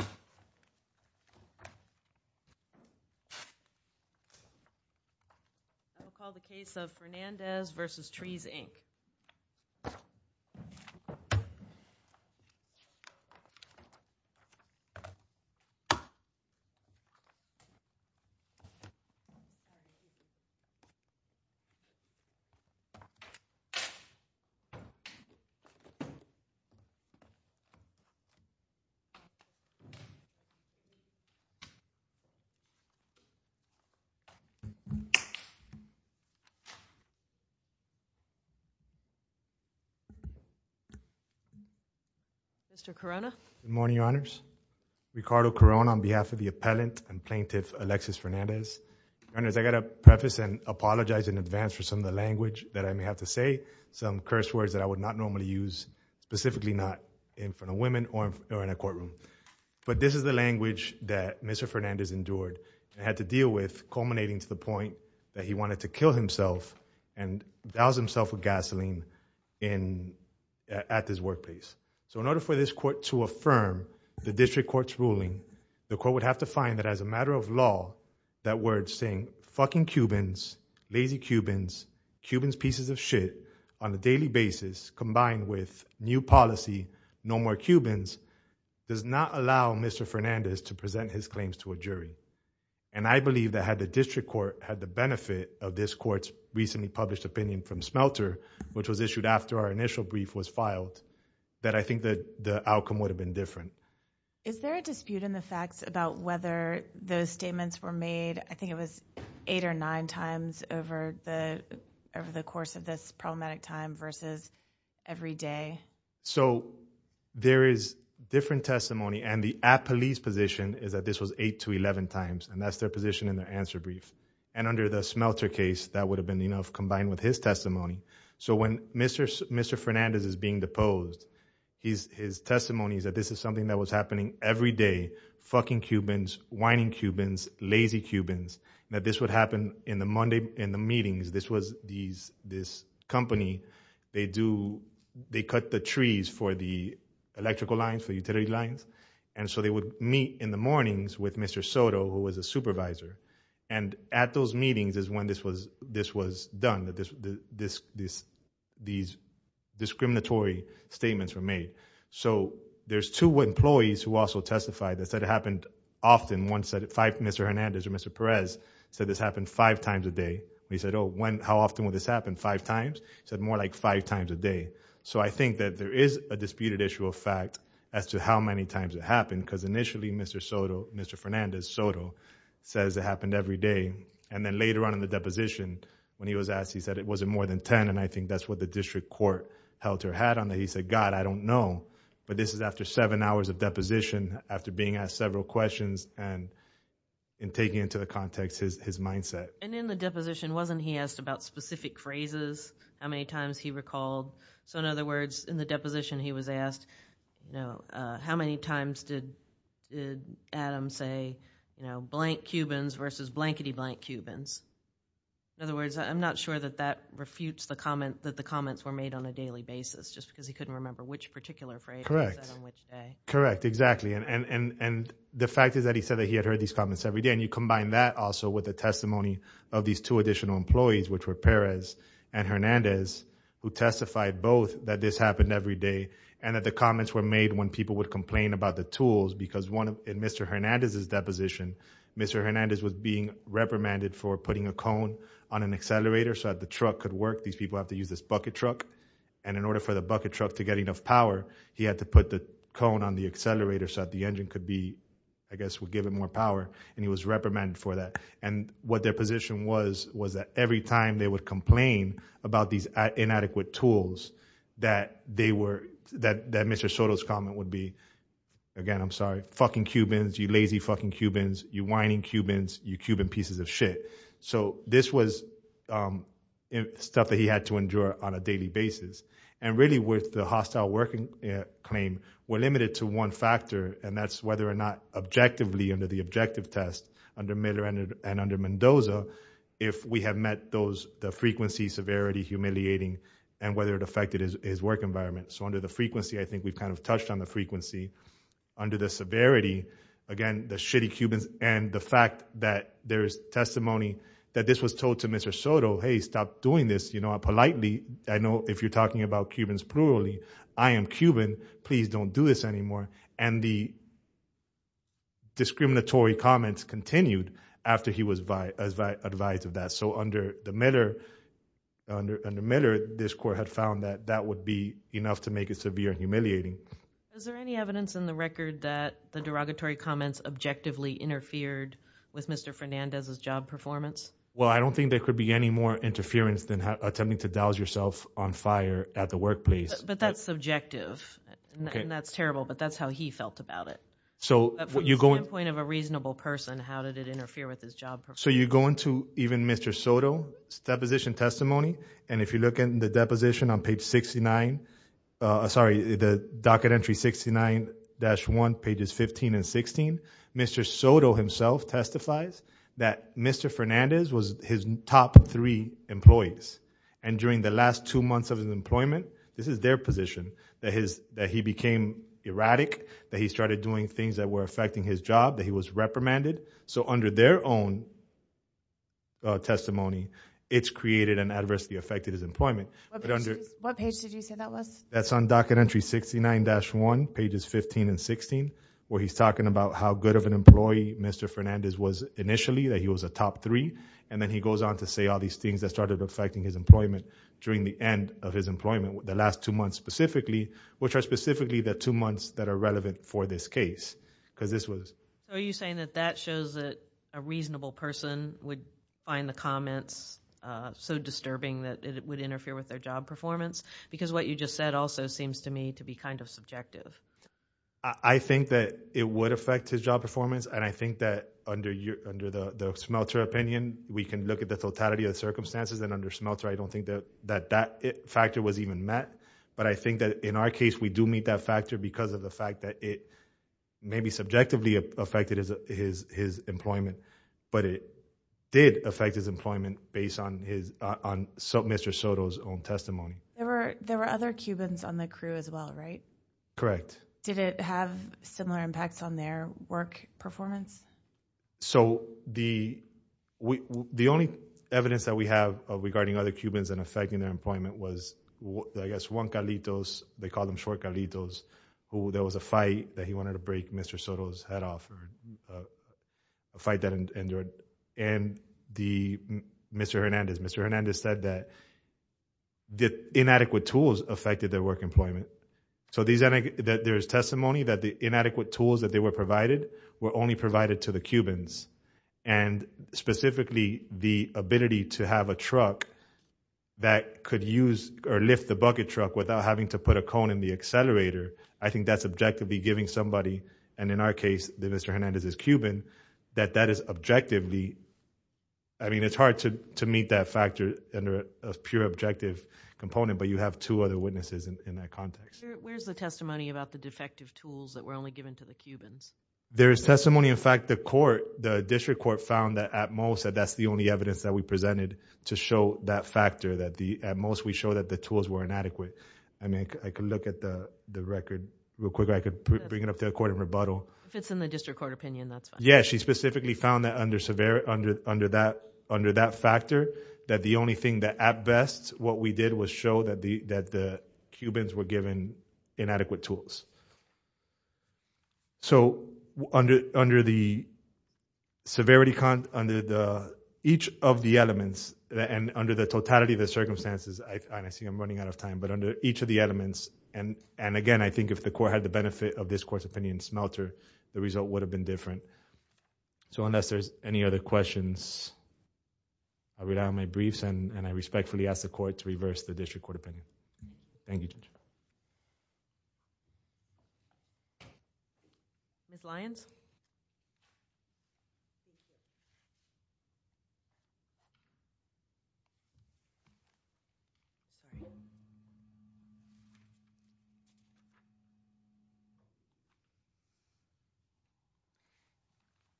I will call the case of Fernandez v. Trees, Inc. Mr. Corona. Good morning, Your Honors. Ricardo Corona on behalf of the appellant and plaintiff Alexis Fernandez. Your Honors, I got to preface and apologize in advance for some of the language that I may have to say, some curse words that I would not normally use, specifically not in front of women or in a courtroom. But this is the language that Mr. Fernandez endured and had to deal with, culminating to the point that he wanted to kill himself and douse himself with gasoline at this workplace. So in order for this court to affirm the district court's ruling, the court would have to find that as a matter of law, that word saying, fucking no more Cubans, does not allow Mr. Fernandez to present his claims to a jury. And I believe that had the district court had the benefit of this court's recently published opinion from Smelter, which was issued after our initial brief was filed, that I think that the outcome would have been different. Is there a dispute in the facts about whether those statements were made? I think it was eight or nine times over the over the course of this problematic time versus every day. So there is different testimony and the police position is that this was eight to 11 times and that's their position in their answer brief. And under the Smelter case, that would have been enough combined with his testimony. So when Mr. Mr. Fernandez is being deposed, he's his testimony is that this is something that was happening every day. Fucking Cubans, whining Cubans, lazy Cubans, that this would happen in the meetings. This was these, this company, they do, they cut the trees for the electrical lines, for utility lines. And so they would meet in the mornings with Mr. Soto, who was a supervisor. And at those meetings is when this was, this was done, that this, this, this, these discriminatory statements were made. So there's two employees who also testified that said it happened often. One said it five, Mr. Hernandez or Mr. Perez said this happened five times a day. And he said, oh, when, how often would this happen? Five times. He said more like five times a day. So I think that there is a disputed issue of fact as to how many times it happened. Cause initially Mr. Soto, Mr. Fernandez Soto says it happened every day. And then later on in the deposition when he was asked, he said it wasn't more than 10. And I think that's what the district court held her had on that. He said, God, I don't know, but this is after seven hours of deposition after being asked several questions and in taking into the context, his, his mindset. And in the deposition, wasn't, he asked about specific phrases, how many times he recalled. So in other words, in the deposition, he was asked, no, uh, how many times did, did Adam say, you know, blank Cubans versus blankety blank Cubans. In other words, I'm not sure that that refutes the comment that the comments were made on a daily basis, just because he couldn't remember which particular phrase. Correct. Exactly. And, and, and the fact is that he said that he had heard these comments every day. And you combine that also with the testimony of these two additional employees, which were Perez and Hernandez, who testified both that this happened every day and that the comments were made when people would complain about the tools, because one of Mr. Hernandez's deposition, Mr. Hernandez was being reprimanded for putting a cone on an accelerator. So that the truck could work. These people have to use this bucket truck. And in order for the he had to put the cone on the accelerator so that the engine could be, I guess, would give it more power. And he was reprimanded for that. And what their position was, was that every time they would complain about these inadequate tools, that they were, that, that Mr. Soto's comment would be again, I'm sorry, fucking Cubans, you lazy fucking Cubans, you whining Cubans, you Cuban pieces of shit. So this was, um, stuff that he had to endure on a daily basis. And really with the hostile working claim, we're limited to one factor and that's whether or not objectively under the objective test under Miller and under Mendoza, if we have met those, the frequency, severity, humiliating, and whether it affected his work environment. So under the frequency, I think we've kind of touched on the frequency under the severity, again, the shitty Cubans and the fact that there's testimony that this was told to Mr. Soto, Hey, stop doing this. You know, if you're talking about Cubans plurally, I am Cuban, please don't do this anymore. And the discriminatory comments continued after he was advised of that. So under the Miller, under, under Miller, this court had found that that would be enough to make it severe and humiliating. Is there any evidence in the record that the derogatory comments objectively interfered with Mr. Fernandez's job performance? Well, I don't think there could be any more interference than attempting to douse yourself on fire at the workplace. But that's subjective and that's terrible, but that's how he felt about it. So from the standpoint of a reasonable person, how did it interfere with his job? So you go into even Mr. Soto's deposition testimony. And if you look in the deposition on page 69, sorry, the docket entry 69-1 pages 15 and 16, Mr. Soto himself testifies that Mr. Fernandez was his top three employees. And during the last two months of his employment, this is their position that his, that he became erratic, that he started doing things that were affecting his job, that he was reprimanded. So under their own testimony, it's created an adversity affected his employment. What page did you say that was? That's on docket entry 69-1 pages 15 and 16, where he's talking about how good of an employee Mr. Fernandez was initially, that he was a top three. And then he goes on to say all these things that started affecting his employment during the end of his employment, the last two months specifically, which are specifically the two months that are relevant for this case. Because this was. So are you saying that that shows that a reasonable person would find the comments so disturbing that it would interfere with their job performance? Because what you just said also seems to me to be kind of subjective. I think that it would affect his job performance. And I think that under the Smelter opinion, we can look at the totality of the circumstances and under Smelter, I don't think that that factor was even met. But I think that in our case, we do meet that factor because of the fact that it maybe subjectively affected his employment, but it did affect his employment based on Mr. Soto's own testimony. There were other Cubans on the crew as well, right? Correct. Did it have similar impacts on their work performance? So the only evidence that we have regarding other Cubans and affecting their employment was I guess Juan Carlitos, they called him short Carlitos, who there was a fight that he wanted to break Mr. Soto's head off, a fight that endured. And Mr. Hernandez, Mr. Hernandez said that the inadequate tools affected their work employment. So there's testimony that the inadequate tools that they were provided were only provided to the Cubans. And specifically, the ability to have a truck that could use or lift the bucket truck without having to put a cone in the accelerator, I think that's objectively giving somebody, and in our case, Mr. Hernandez is Cuban, that that is objectively. I mean, it's hard to meet that factor under a pure objective component, but you have two other witnesses in that context. Where's the testimony about the defective tools that were only given to the Cubans? There is testimony. In fact, the court, the district court found that at most, that that's the only evidence that we presented to show that factor, that at most we show that the tools were inadequate. I mean, I could look at the record real quick. I could bring it up to the court and rebuttal. If it's in the district court opinion, that's fine. Yeah. She specifically found that under that factor, that the only thing that at best, what we did was show that the Cubans were given inadequate tools. So under the severity, under each of the elements and under the totality of the circumstances, and I see I'm running out of time, but under each of the elements, and again, I think if the court had the benefit of this court's opinion smelter, the result would have been different. So unless there's any other questions, I'll read out my briefs and I respectfully ask the court to reverse the district court opinion. Thank you, Judge. Ms. Lyons?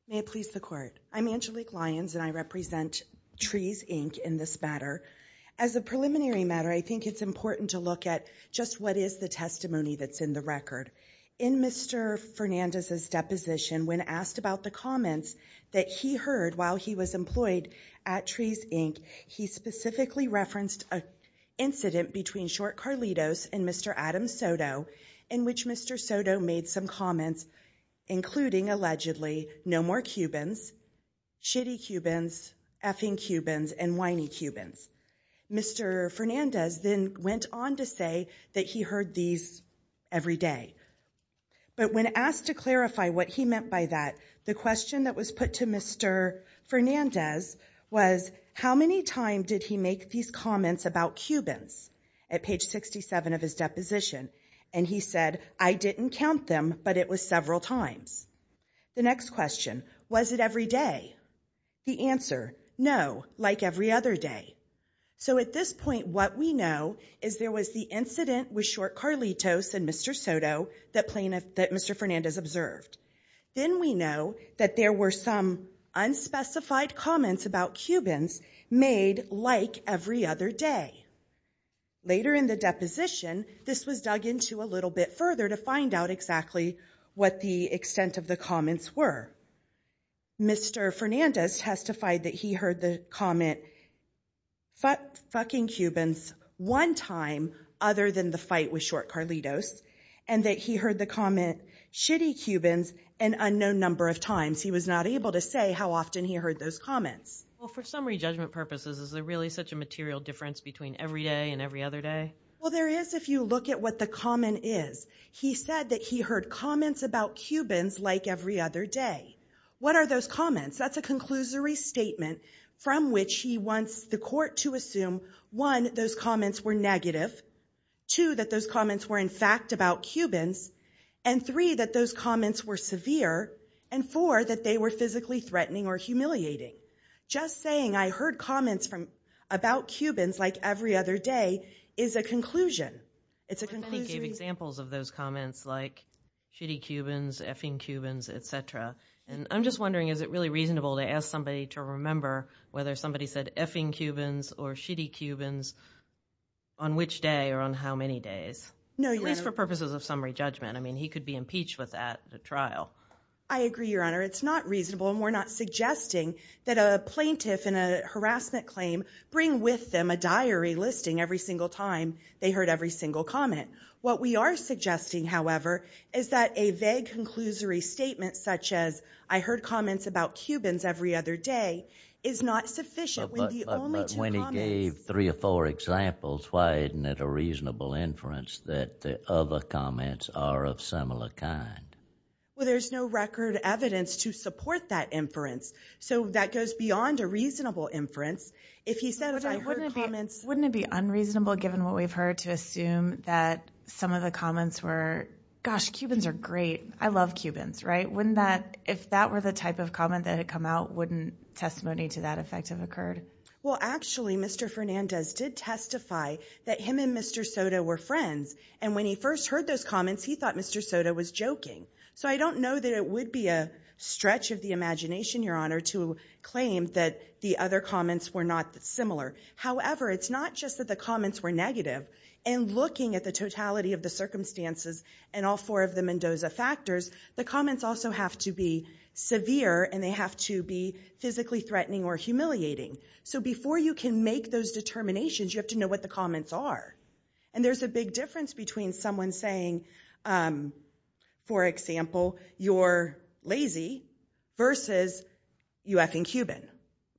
May it please the court. I'm Angelique Lyons and I represent Trees, Inc. in this matter. As a preliminary matter, I think it's important to look at just what is the testimony that's in the record. In Mr. Fernandez's deposition, when asked about the comments that he heard while he was employed at Trees, Inc., he specifically referenced an incident between Short Carlitos and Mr. Adam Soto, in which Mr. Soto made some comments, including allegedly, no more Cubans, shitty Cubans, effing Cubans, and whiny Cubans. Mr. Fernandez then went on to say that he heard these every day. But when asked to clarify what he meant by that, the question that was put to Mr. Fernandez was, how many times did he make these comments about 67 of his deposition? And he said, I didn't count them, but it was several times. The next question, was it every day? The answer, no, like every other day. So at this point, what we know is there was the incident with Short Carlitos and Mr. Soto that Mr. Fernandez observed. Then we know that there were some unspecified comments about Cubans made like every other day. Later in the deposition, this was dug into a little bit further to find out exactly what the extent of the comments were. Mr. Fernandez testified that he heard the comment, fucking Cubans, one time, other than the fight with Short Carlitos, and that he heard the comment, shitty Cubans, an unknown number of times. He was not able to say how often he heard those comments. Well, for summary judgment purposes, is there really such a material difference between every day and every other day? Well, there is if you look at what the comment is. He said that he heard comments about Cubans like every other day. What are those comments? That's a conclusory statement from which he wants the court to assume, one, those comments were negative, two, that those comments were in fact about Cubans, and three, that those comments were just saying, I heard comments about Cubans like every other day is a conclusion. It's a conclusion. Many gave examples of those comments like shitty Cubans, effing Cubans, etc. And I'm just wondering, is it really reasonable to ask somebody to remember whether somebody said effing Cubans or shitty Cubans on which day or on how many days? No, Your Honor. At least for purposes of summary judgment. I mean, he could be impeached with that trial. I agree, Your Honor. It's not reasonable, and we're not suggesting that a plaintiff in a harassment claim bring with them a diary listing every single time they heard every single comment. What we are suggesting, however, is that a vague conclusory statement such as, I heard comments about Cubans every other day, is not sufficient when the only two comments— But when he gave three or four examples, why isn't it a reasonable inference that the other Well, there's no record evidence to support that inference, so that goes beyond a reasonable inference. If he said, I heard comments— Wouldn't it be unreasonable, given what we've heard, to assume that some of the comments were, gosh, Cubans are great. I love Cubans, right? Wouldn't that—if that were the type of comment that had come out, wouldn't testimony to that effect have occurred? Well, actually, Mr. Fernandez did testify that him and Mr. Soto were friends, and when he first heard those comments, he thought Mr. Soto was joking. So I don't know that it would be a stretch of the imagination, Your Honor, to claim that the other comments were not similar. However, it's not just that the comments were negative, and looking at the totality of the circumstances and all four of the Mendoza factors, the comments also have to be severe, and they have to be physically threatening or humiliating. So before you can make those determinations, you have to know what the comments are, and there's a big difference between someone saying, for example, you're lazy versus you effing Cuban.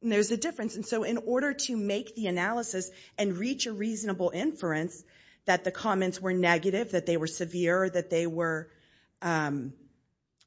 There's a difference, and so in order to make the analysis and reach a reasonable inference that the comments were negative, that they were severe, that they were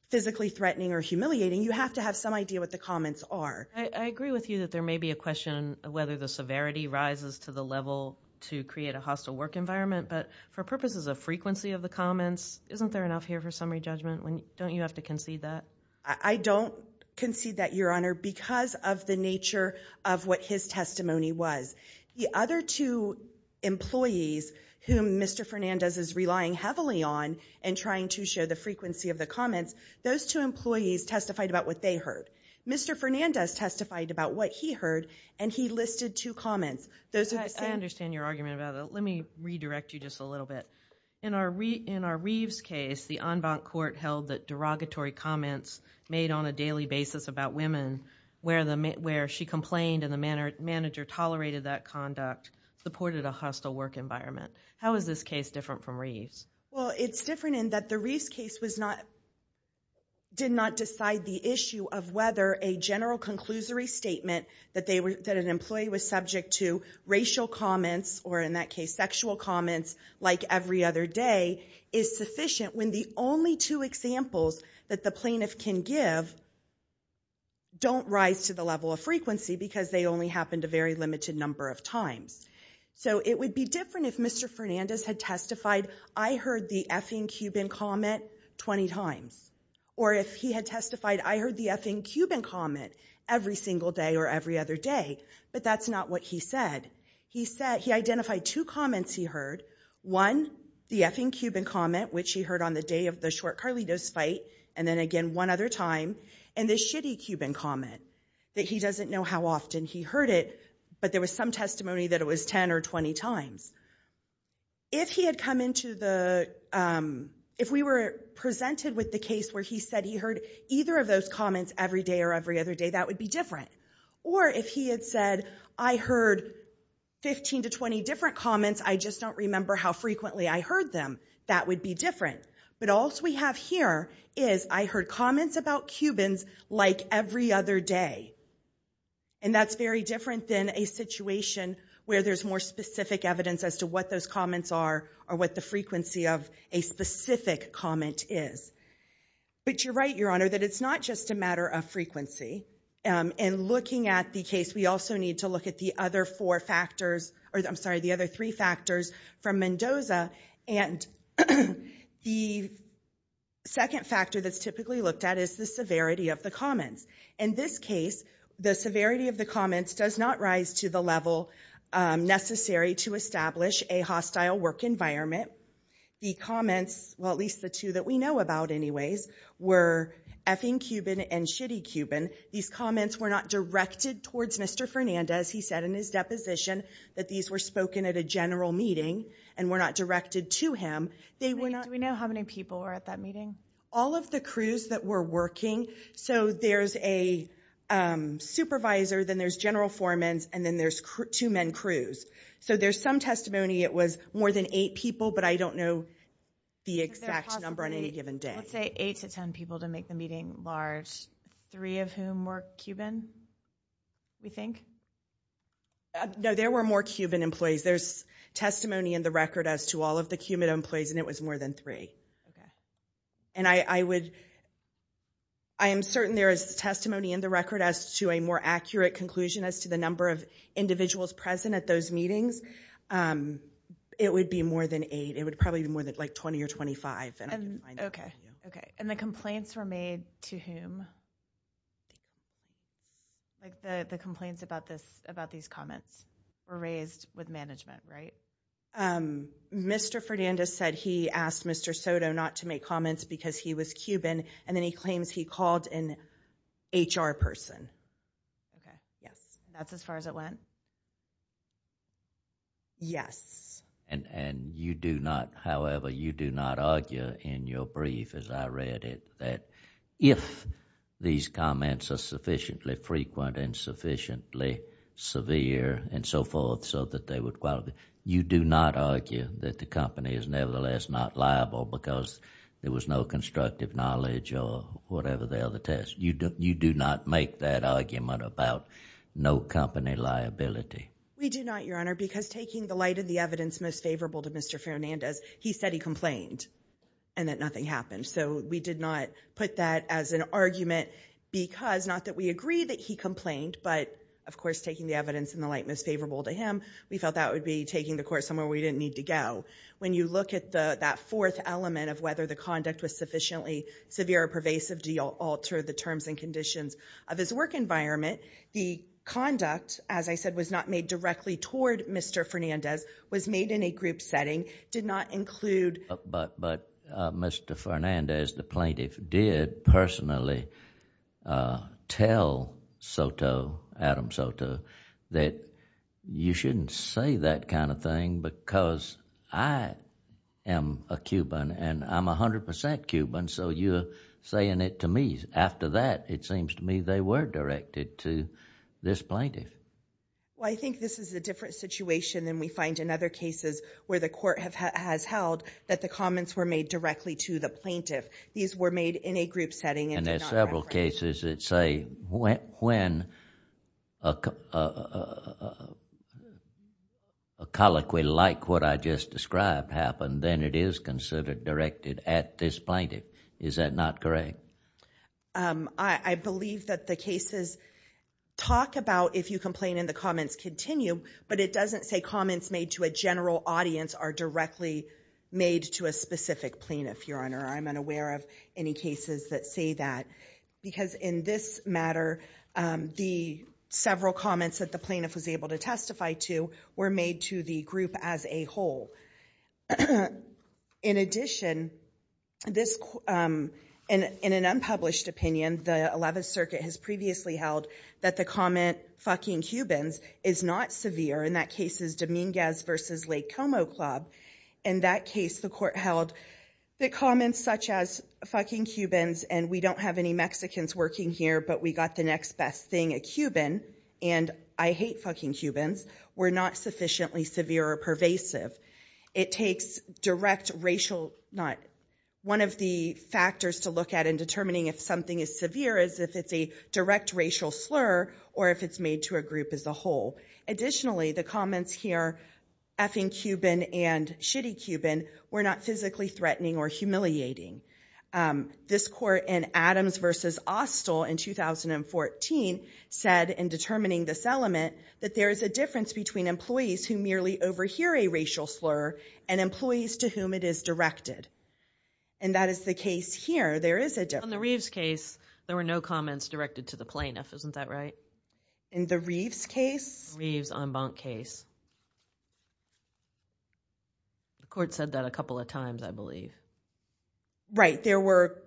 physically threatening or humiliating, you have to have some idea what the comments are. I agree with you that there may be a question of whether the severity rises to the level to create a hostile work environment, but for purposes of frequency of the comments, isn't there enough here for summary judgment? Don't you have to concede that? I don't concede that, Your Honor, because of the nature of what his testimony was. The other two employees whom Mr. Fernandez is relying heavily on and trying to show the frequency of the comments, those two employees testified about what they heard. Mr. Fernandez testified about what he heard, and he listed two comments. I understand your argument about that. Let me redirect you just a little bit. In our Reeves case, the en banc court held that derogatory comments made on a daily basis about women, where she complained and the manager tolerated that conduct, supported a hostile work environment. How is this case different from Reeves? Well, it's different in that the did not decide the issue of whether a general conclusory statement that an employee was subject to racial comments, or in that case sexual comments, like every other day, is sufficient when the only two examples that the plaintiff can give don't rise to the level of frequency because they only happened a very limited number of times. So it would be different if Mr. Fernandez had or if he had testified, I heard the effing Cuban comment every single day or every other day, but that's not what he said. He identified two comments he heard. One, the effing Cuban comment, which he heard on the day of the short Carlitos fight, and then again one other time, and this shitty Cuban comment that he doesn't know how often he heard it, but there was some testimony that it was 10 or 20 times. If we were presented with the case where he said he heard either of those comments every day or every other day, that would be different. Or if he had said, I heard 15 to 20 different comments, I just don't remember how frequently I heard them, that would be different. But all we have here is I heard comments about Cubans like every other day, and that's very different than a situation where there's more specific evidence as to what those comments are or what the frequency of a specific comment is. But you're right, Your Honor, that it's not just a matter of frequency. In looking at the case, we also need to look at the other four factors, or I'm sorry, the other three factors from Mendoza, and the second factor that's typically looked at is the severity of the comments. In this case, the severity of the comments does not rise to the level necessary to establish a hostile work environment. The comments, well at least the two that we know about anyways, were effing Cuban and shitty Cuban. These comments were not directed towards Mr. Fernandez. He said in his deposition that these were spoken at a general meeting and were not directed to him. Do we know how many people were at that meeting? All of the crews that were working, so there's a supervisor, then there's general foremans, and then there's two men crews. So there's some testimony it was more than eight people, but I don't know the exact number on any given day. Let's say eight to ten people to make the meeting large, three of whom were Cuban, we think? No, there were more Cuban employees. There's testimony in the record as to all of the Cuban employees, and it was more than three. I would, I am certain there is testimony in the record as to a more accurate conclusion as to the number of individuals present at those meetings. It would be more than eight. It would probably be more than like 20 or 25. Okay, and the complaints were made to whom? Like the complaints about this, about these comments were raised with management, right? Um, Mr. Fernandez said he asked Mr. Soto not to make comments because he was Cuban, and then he claims he called an HR person. Okay, yes, that's as far as it went? Yes. And you do not, however, you do not argue in your brief as I read it that if these comments are sufficiently frequent and sufficiently severe and so forth so that they you do not argue that the company is nevertheless not liable because there was no constructive knowledge or whatever the other test. You do not make that argument about no company liability. We do not, Your Honor, because taking the light of the evidence most favorable to Mr. Fernandez, he said he complained and that nothing happened. So we did not put that as an argument because, not that we agree that he complained, but of course taking the evidence in the light that's favorable to him, we felt that would be taking the court somewhere we didn't need to go. When you look at that fourth element of whether the conduct was sufficiently severe or pervasive to alter the terms and conditions of his work environment, the conduct, as I said, was not made directly toward Mr. Fernandez, was made in a group setting, did not include. But Mr. Fernandez, the plaintiff, did personally tell Soto, Adam Soto, that you shouldn't say that kind of thing because I am a Cuban and I'm a hundred percent Cuban so you're saying it to me. After that, it seems to me they were directed to this plaintiff. Well, I think this is a different situation than we find in other cases where the court has held that the comments were made directly to the plaintiff. These were made in a group setting. And there's several cases that say when a colloquy like what I just described happened, then it is considered directed at this plaintiff. Is that not correct? I believe that the cases talk about if you complain and the comments continue, but it doesn't say comments made to a general audience are directly made to a specific plaintiff, Your Honor. I'm unaware of any cases that say that, because in this matter, the several comments that the plaintiff was able to testify to were made to the group as a whole. In addition, in an unpublished opinion, the 11th Circuit has previously held that the comment, fucking Cubans, is not severe. In that case is Dominguez versus Lake Como Club. In that case, the court held that comments such as fucking Cubans, and we don't have any Mexicans working here, but we got the next best thing, a Cuban, and I hate fucking Cubans, were not sufficiently severe or pervasive. It takes direct racial, one of the factors to look at in determining if something is severe is if it's a direct racial slur or if it's made to a and shitty Cuban were not physically threatening or humiliating. This court in Adams versus Austell in 2014 said in determining this element that there is a difference between employees who merely overhear a racial slur and employees to whom it is directed, and that is the case here. There is a difference. On the Reeves case, there were no comments directed to the plaintiff, isn't that right? In the Reeves case? Reeves en banc case. The court said that a couple of times, I believe. Right, there were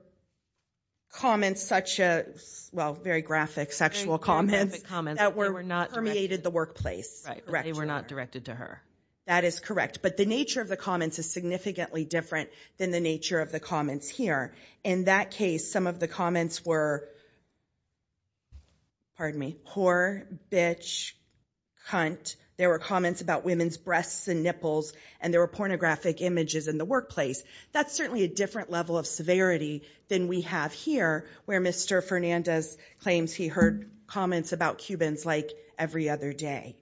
comments such as, well, very graphic sexual comments that were not permeated the workplace. They were not directed to her. That is correct, but the nature of the comments is significantly different than the nature of the comments were, pardon me, whore, bitch, cunt. There were comments about women's breasts and nipples, and there were pornographic images in the workplace. That's certainly a different level of severity than we have here, where Mr. Fernandez claims he heard comments about Cubans like every other day.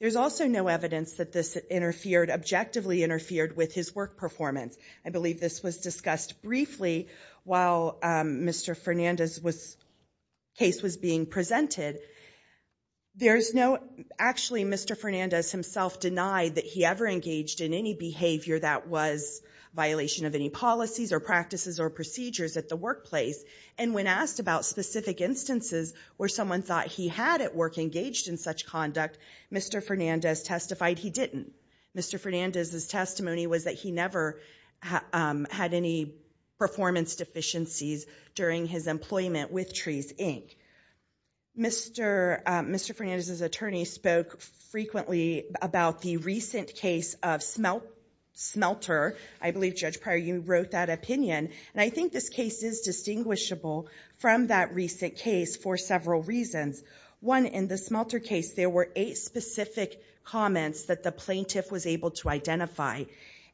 There's also no evidence that this interfered, objectively interfered with his work performance. I believe this was discussed briefly while Mr. Fernandez's case was being presented. There's no, actually Mr. Fernandez himself denied that he ever engaged in any behavior that was violation of any policies or practices or procedures at the workplace, and when asked about specific instances where someone thought he had at work engaged in such conduct, Mr. Fernandez testified he didn't. Mr. Fernandez's testimony was that he never had any performance deficiencies during his employment with Trees, Inc. Mr. Fernandez's attorney spoke frequently about the recent case of Smelter. I believe, Judge Pryor, you wrote that opinion, and I think this case is distinguishable from that recent case for several reasons. One, in the Smelter case, there were eight specific comments that the plaintiff was able to identify,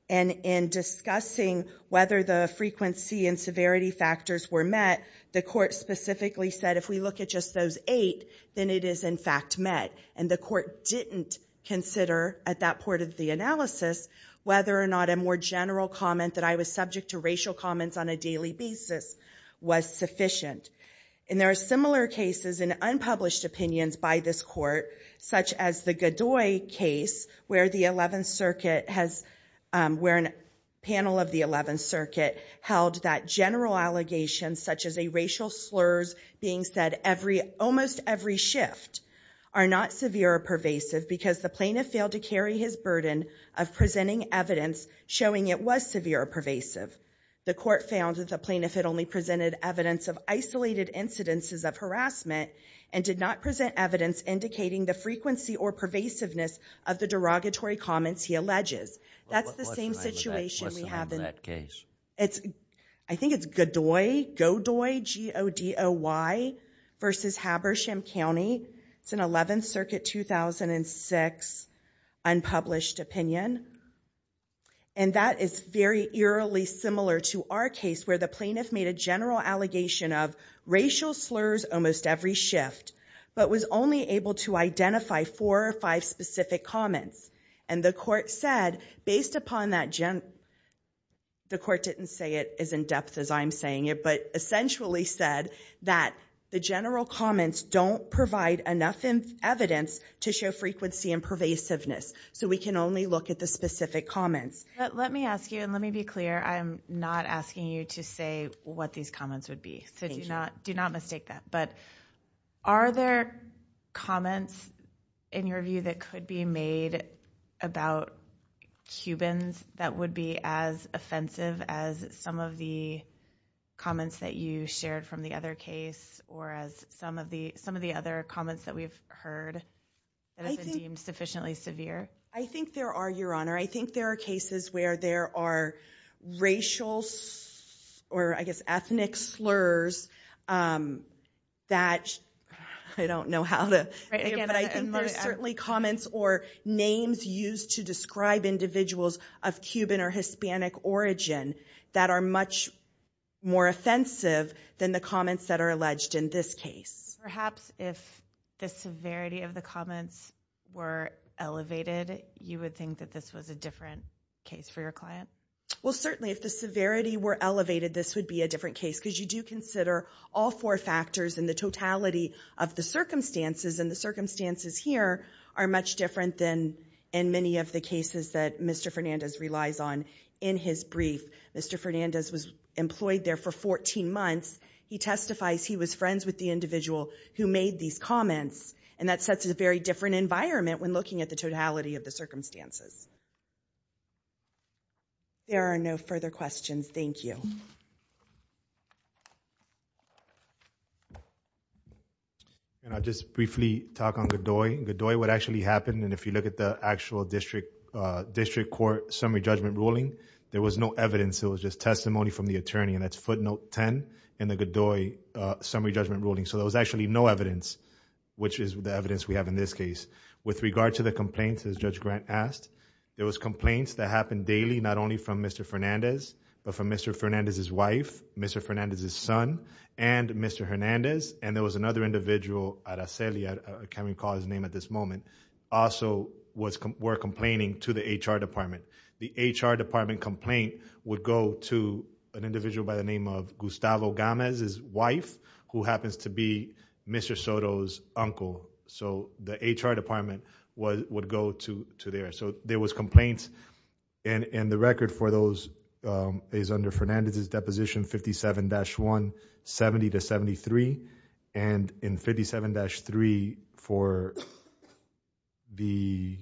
and in discussing whether the frequency and severity factors were met, the court specifically said if we look at just those eight, then it is in fact met, and the court didn't consider at that point of the analysis whether or not a more general comment that I was subject to racial comments on a daily basis was sufficient. And there are similar cases in unpublished opinions by this court, such as the Godoy case, where the 11th Circuit has, where a panel of the 11th Circuit held that general allegations, such as a racial slurs being said every, almost every shift, are not severe or pervasive because the plaintiff failed to carry his burden of presenting evidence showing it was severe or pervasive. He presented evidence of isolated incidences of harassment and did not present evidence indicating the frequency or pervasiveness of the derogatory comments he alleges. That's the same situation we have in that case. It's, I think it's Godoy, Godoy, G-O-D-O-Y versus Habersham County. It's an 11th Circuit 2006 unpublished opinion, and that is very eerily similar to our case where the plaintiff made a general allegation of racial slurs almost every shift, but was only able to identify four or five specific comments. And the court said, based upon that general, the court didn't say it as in depth as I'm saying it, but essentially said that the general comments don't provide enough evidence to show frequency and pervasiveness. So we can only look at the specific comments. But let me ask you, and let me be clear, I'm not asking you to say what these comments would be, so do not, do not mistake that. But are there comments in your view that could be made about Cubans that would be as offensive as some of the comments that you shared from the other case, or as some of the, some of the other comments that we've heard that have been deemed sufficiently severe? I think there are, Your Honor. I think there are cases where there are racial or, I guess, ethnic slurs that, I don't know how to, but I think there's certainly comments or names used to describe individuals of Cuban or Hispanic origin that are much more offensive than the severity of the comments were elevated, you would think that this was a different case for your client? Well, certainly if the severity were elevated, this would be a different case, because you do consider all four factors and the totality of the circumstances, and the circumstances here are much different than in many of the cases that Mr. Fernandez relies on. In his brief, Mr. Fernandez was employed there for 14 months. He testifies he was friends with the individual who made these comments, and that sets a very different environment when looking at the totality of the circumstances. There are no further questions. Thank you. And I'll just briefly talk on Godoy. Godoy, what actually happened, and if you look at the actual district, district court summary judgment ruling, there was no evidence. It was just testimony from the attorney, and that's footnote 10 in the Godoy summary judgment ruling, so there was actually no evidence, which is the evidence we have in this case. With regard to the complaints, as Judge Grant asked, there was complaints that happened daily, not only from Mr. Fernandez, but from Mr. Fernandez's wife, Mr. Fernandez's son, and Mr. Hernandez, and there was another individual, Araceli, I can't recall his name at this moment, also were complaining to the HR department. The HR department complaint would go to an individual by the name of Gustavo Gamez, his wife, who happens to be Mr. Soto's uncle, so the HR department would go to there, so there was complaints, and the record for those is under Fernandez's deposition, 57-1, 70 to 73, and in 57-3, for the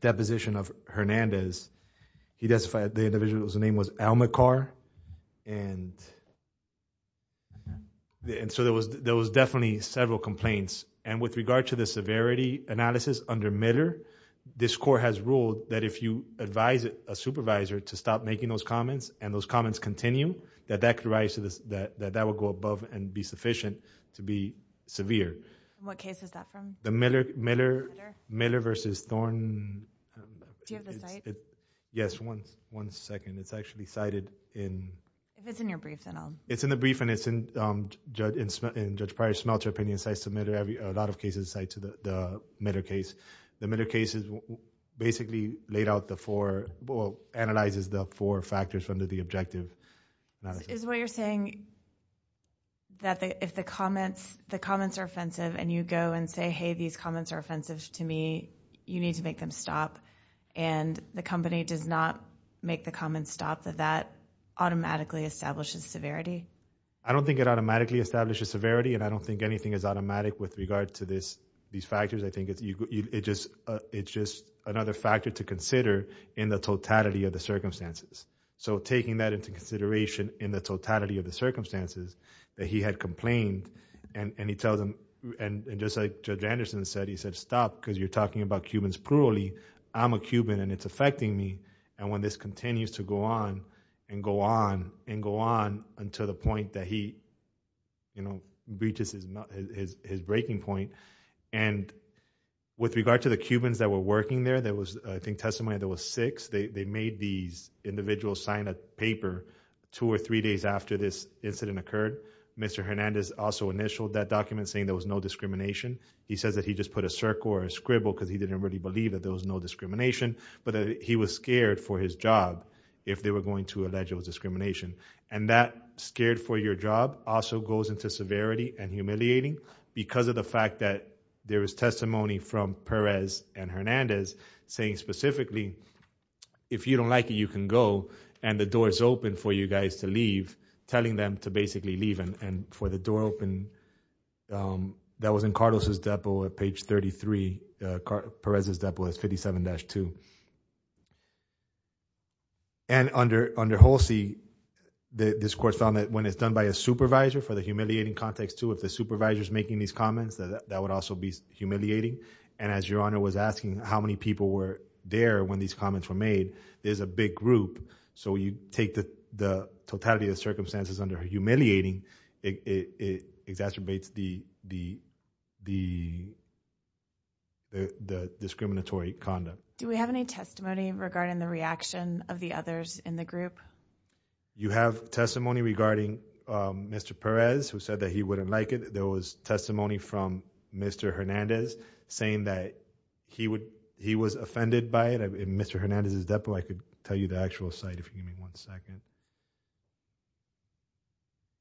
deposition of Hernandez, he testified the individual's name was Alma Carr, and and so there was, there was definitely several complaints, and with regard to the severity analysis under Mitter, this court has ruled that if you advise a supervisor to stop making those comments, and those comments continue, that that could rise to this, that that would go above and to be severe. What case is that from? The Mitter, Mitter, Mitter versus Thorne. Do you have the site? Yes, one, one second, it's actually cited in. If it's in your brief, then I'll. It's in the brief, and it's in Judge, in Judge Pryor's Smelter opinion, so I submitted a lot of cases tied to the Mitter case. The Mitter case is basically laid out the four, well, analyzes the four factors from the objective. Is what you're saying that if the comments, the comments are offensive, and you go and say, hey, these comments are offensive to me, you need to make them stop, and the company does not make the comments stop, that that automatically establishes severity? I don't think it automatically establishes severity, and I don't think anything is automatic with regard to this, these factors. I think it's, you, it just, it's just another factor to consider in the totality of the circumstances, so taking that into consideration in the totality of the circumstances that he had complained, and, and he tells them, and just like Judge Anderson said, he said, stop, because you're talking about Cubans plurally. I'm a Cuban, and it's affecting me, and when this continues to go on, and go on, and go on, until the point that he, you know, reaches his, his, his breaking point, and with regard to the Cubans that were working there, there was, I think, testimony, there was six, they, they made these individuals sign a paper two or three days after this incident occurred. Mr. Hernandez also initialed that document saying there was no discrimination. He says that he just put a circle or a scribble because he didn't really believe that there was no discrimination, but that he was scared for his job if they were going to allege it was discrimination, and that scared for your job also goes into severity and humiliating because of the if you don't like it, you can go, and the door is open for you guys to leave, telling them to basically leave, and, and for the door open, that was in Carlos's depot at page 33, Perez's depot is 57-2, and under, under Holsey, the, this court found that when it's done by a supervisor, for the humiliating context too, if the supervisor is making these comments, that, that would also be humiliating, and as your honor was asking how many people were there when these comments were made, there's a big group, so you take the, the totality of circumstances under humiliating, it, it exacerbates the, the, the, the discriminatory conduct. Do we have any testimony regarding the reaction of the others in the group? You have testimony regarding Mr. Perez, who said that he wouldn't like it, there was testimony from Mr. Hernandez saying that he would, he was offended by it, in Mr. Hernandez's depot, I could tell you the actual site if you give me one second.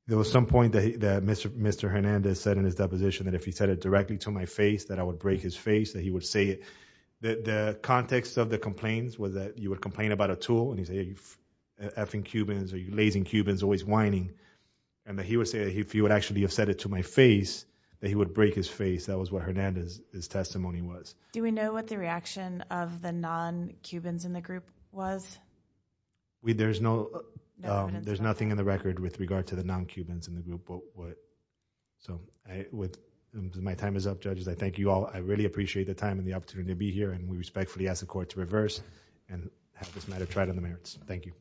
There was some point that he, that Mr., Mr. Hernandez said in his deposition that if he said it directly to my face, that I would break his face, that he would say it, that the context of the complaints was that you would complain about a tool, and he's a effing Cubans, or you lazy Cubans, always whining, and that he would say if he would actually have said it to my face, that he would break his face, that was what Hernandez's, his testimony was. Do we know what the reaction of the non-Cubans in the group was? We, there's no, there's nothing in the record with regard to the non-Cubans in the group, but what, so I, with, my time is up, judges, I thank you all, I really appreciate the time and the opportunity to be here, and we respectfully ask the court to reverse, and have this matter tried on the merits. Thank you.